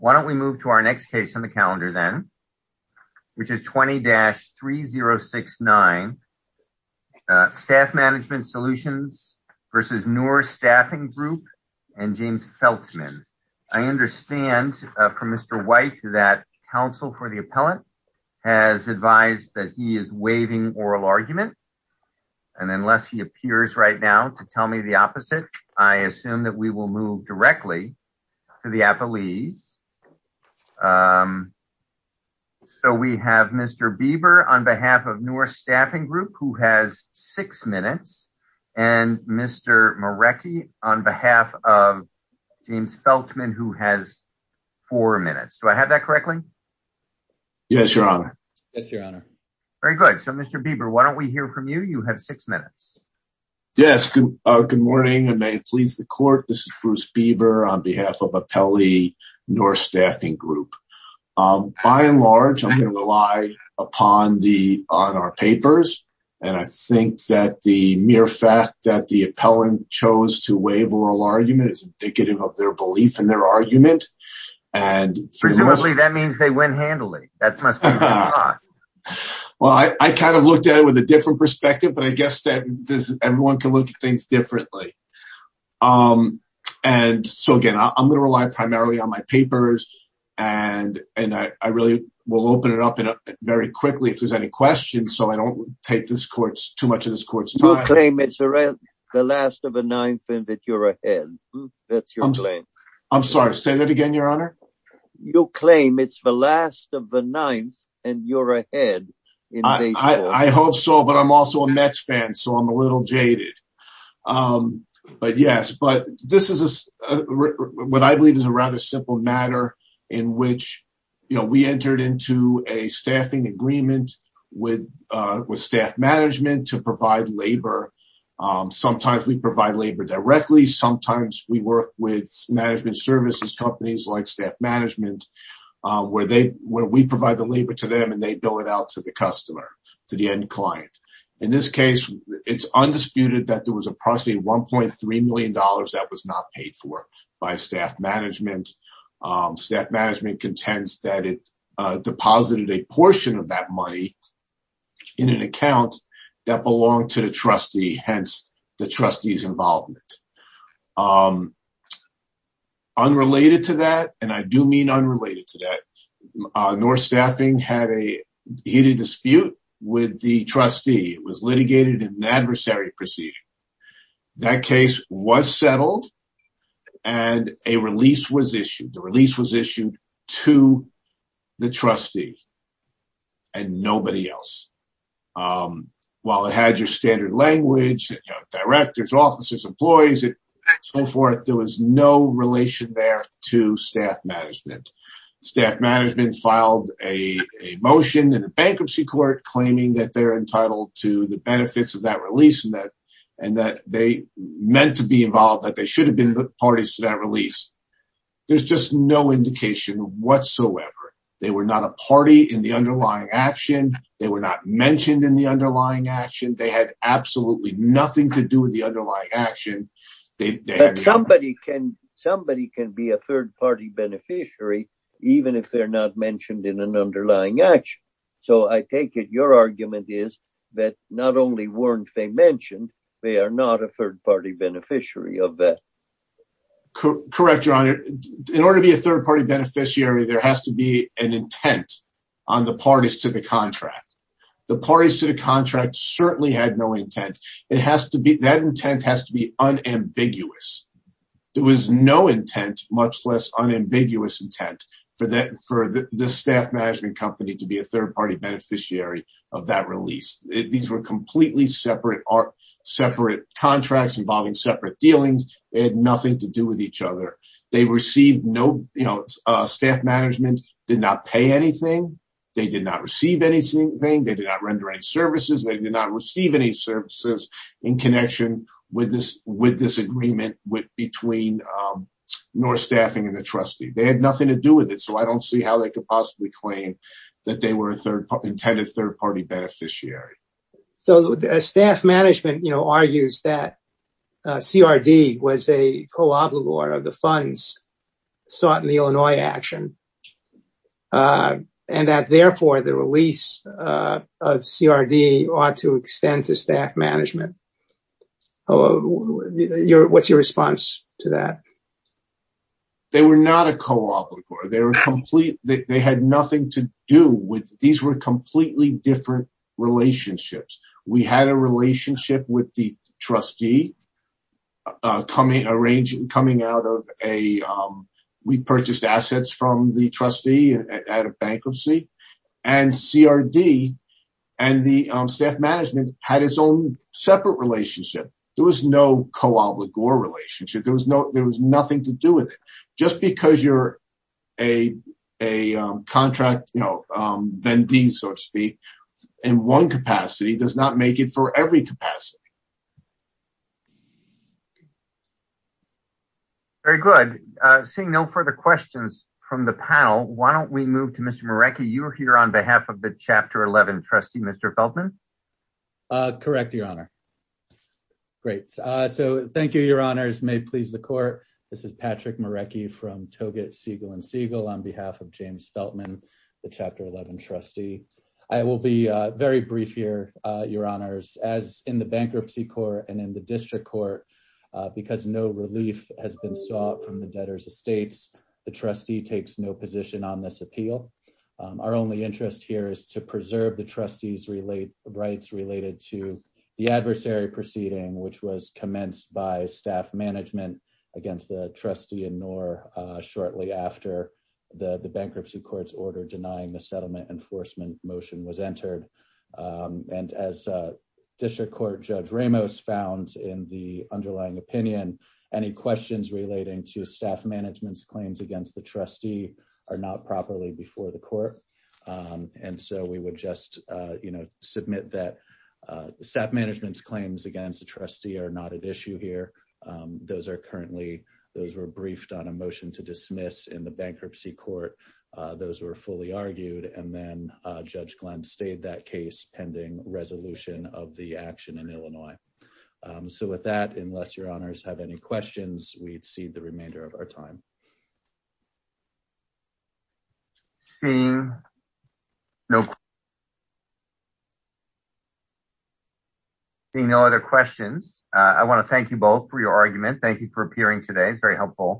Why don't we move to our next case on the calendar then, which is 20-3069 Staff Management Solutions versus Noor Staffing Group and James Feltman. I understand from Mr. White that counsel for the appellant has advised that he is waiving oral argument, I assume that we will move directly to the appellees. So we have Mr. Bieber on behalf of Noor Staffing Group who has six minutes and Mr. Marecki on behalf of James Feltman who has four minutes. Do I have that correctly? Yes, your honor. Yes, your honor. Very good. So Mr. Bieber, why don't we hear from you? You have six minutes. Yes, good morning and may it please the court, this is Bruce Bieber on behalf of appellee Noor Staffing Group. By and large, I'm gonna rely on our papers and I think that the mere fact that the appellant chose to waive oral argument is indicative of their belief in their argument and- Presumably that means they went handily, that must be the plot. Well, I kind of looked at it with a different perspective but I guess that everyone can look at things differently. And so again, I'm gonna rely primarily on my papers and I really will open it up very quickly if there's any questions so I don't take too much of this court's time. You claim it's the last of the ninth and that you're ahead, that's your claim. I'm sorry, say that again, your honor. You claim it's the last of the ninth and you're ahead in this case. I hope so but I'm also a Mets fan so I'm a little jaded. But yes, but this is what I believe is a rather simple matter in which we entered into a staffing agreement with staff management to provide labor. Sometimes we provide labor directly, sometimes we work with management services companies like staff management where we provide the labor to them and they bill it out to the customer, to the end client. In this case, it's undisputed that there was approximately $1.3 million that was not paid for by staff management. Staff management contends that it deposited a portion of that money in an account that belonged to the trustee, hence the trustee's involvement. Unrelated to that, and I do mean unrelated to that, North Staffing had a heated dispute with the trustee. It was litigated in an adversary proceeding. That case was settled and a release was issued. The release was issued to the trustee and nobody else. While it had your standard language, directors, officers, employees, and so forth, there was no relation there to staff management. Staff management filed a motion in the bankruptcy court claiming that they're entitled to the benefits of that release and that they meant to be involved, that they should have been parties to that release. There's just no indication whatsoever. They were not a party in the underlying action. They were not mentioned in the underlying action. They had absolutely nothing to do with the underlying action. But somebody can be a third party beneficiary even if they're not mentioned in an underlying action. So I take it your argument is that not only weren't they mentioned, they are not a third party beneficiary of that. Correct, Your Honor. In order to be a third party beneficiary, there has to be an intent on the parties to the contract. The parties to the contract certainly had no intent. It has to be, that intent has to be unambiguous. There was no intent, much less unambiguous intent, for the staff management company to be a third party beneficiary of that release. These were completely separate contracts involving separate dealings. They had nothing to do with each other. They received no, staff management did not pay anything. They did not receive anything. They did not render any services. They did not receive any services in connection with this agreement between North Staffing and the trustee. They had nothing to do with it. So I don't see how they could possibly claim that they were intended third party beneficiary. So the staff management argues that CRD was a co-obligor of the funds sought in the Illinois action. And that therefore the release of CRD ought to extend to staff management. What's your response to that? They were not a co-obligor. They were complete, they had nothing to do with, these were completely different relationships. We had a relationship with the trustee coming out of a, we purchased assets from the trustee. And out of bankruptcy and CRD and the staff management had its own separate relationship. There was no co-obligor relationship. There was no, there was nothing to do with it. Just because you're a contract, you know, then D so to speak in one capacity does not make it for every capacity. Very good. Seeing no further questions from the panel, why don't we move to Mr. Marecki? You're here on behalf of the chapter 11 trustee, Mr. Feltman. Correct, your honor. Great. So thank you, your honors may please the court. This is Patrick Marecki from Toget, Siegel and Siegel on behalf of James Feltman, the chapter 11 trustee. I will be very brief here, your honors as in the bankruptcy court and in the district court because no relief has been sought from the debtor's estates. The trustee takes no position on this appeal. Our only interest here is to preserve the trustee's rights related to the adversary proceeding which was commenced by staff management against the trustee and nor shortly after the bankruptcy court's order denying the settlement enforcement motion was entered. And as a district court judge Ramos found in the underlying opinion, any questions relating to staff management's claims against the trustee are not properly before the court. And so we would just submit that staff management's claims against the trustee are not at issue here. Those are currently, those were briefed on a motion to dismiss in the bankruptcy court. Those were fully argued and then judge Glenn stayed that case pending resolution of the action in Illinois. So with that, unless your honors have any questions we'd see the remainder of our time. Seeing no, seeing no other questions. I wanna thank you both for your argument. Thank you for appearing today. It's very helpful.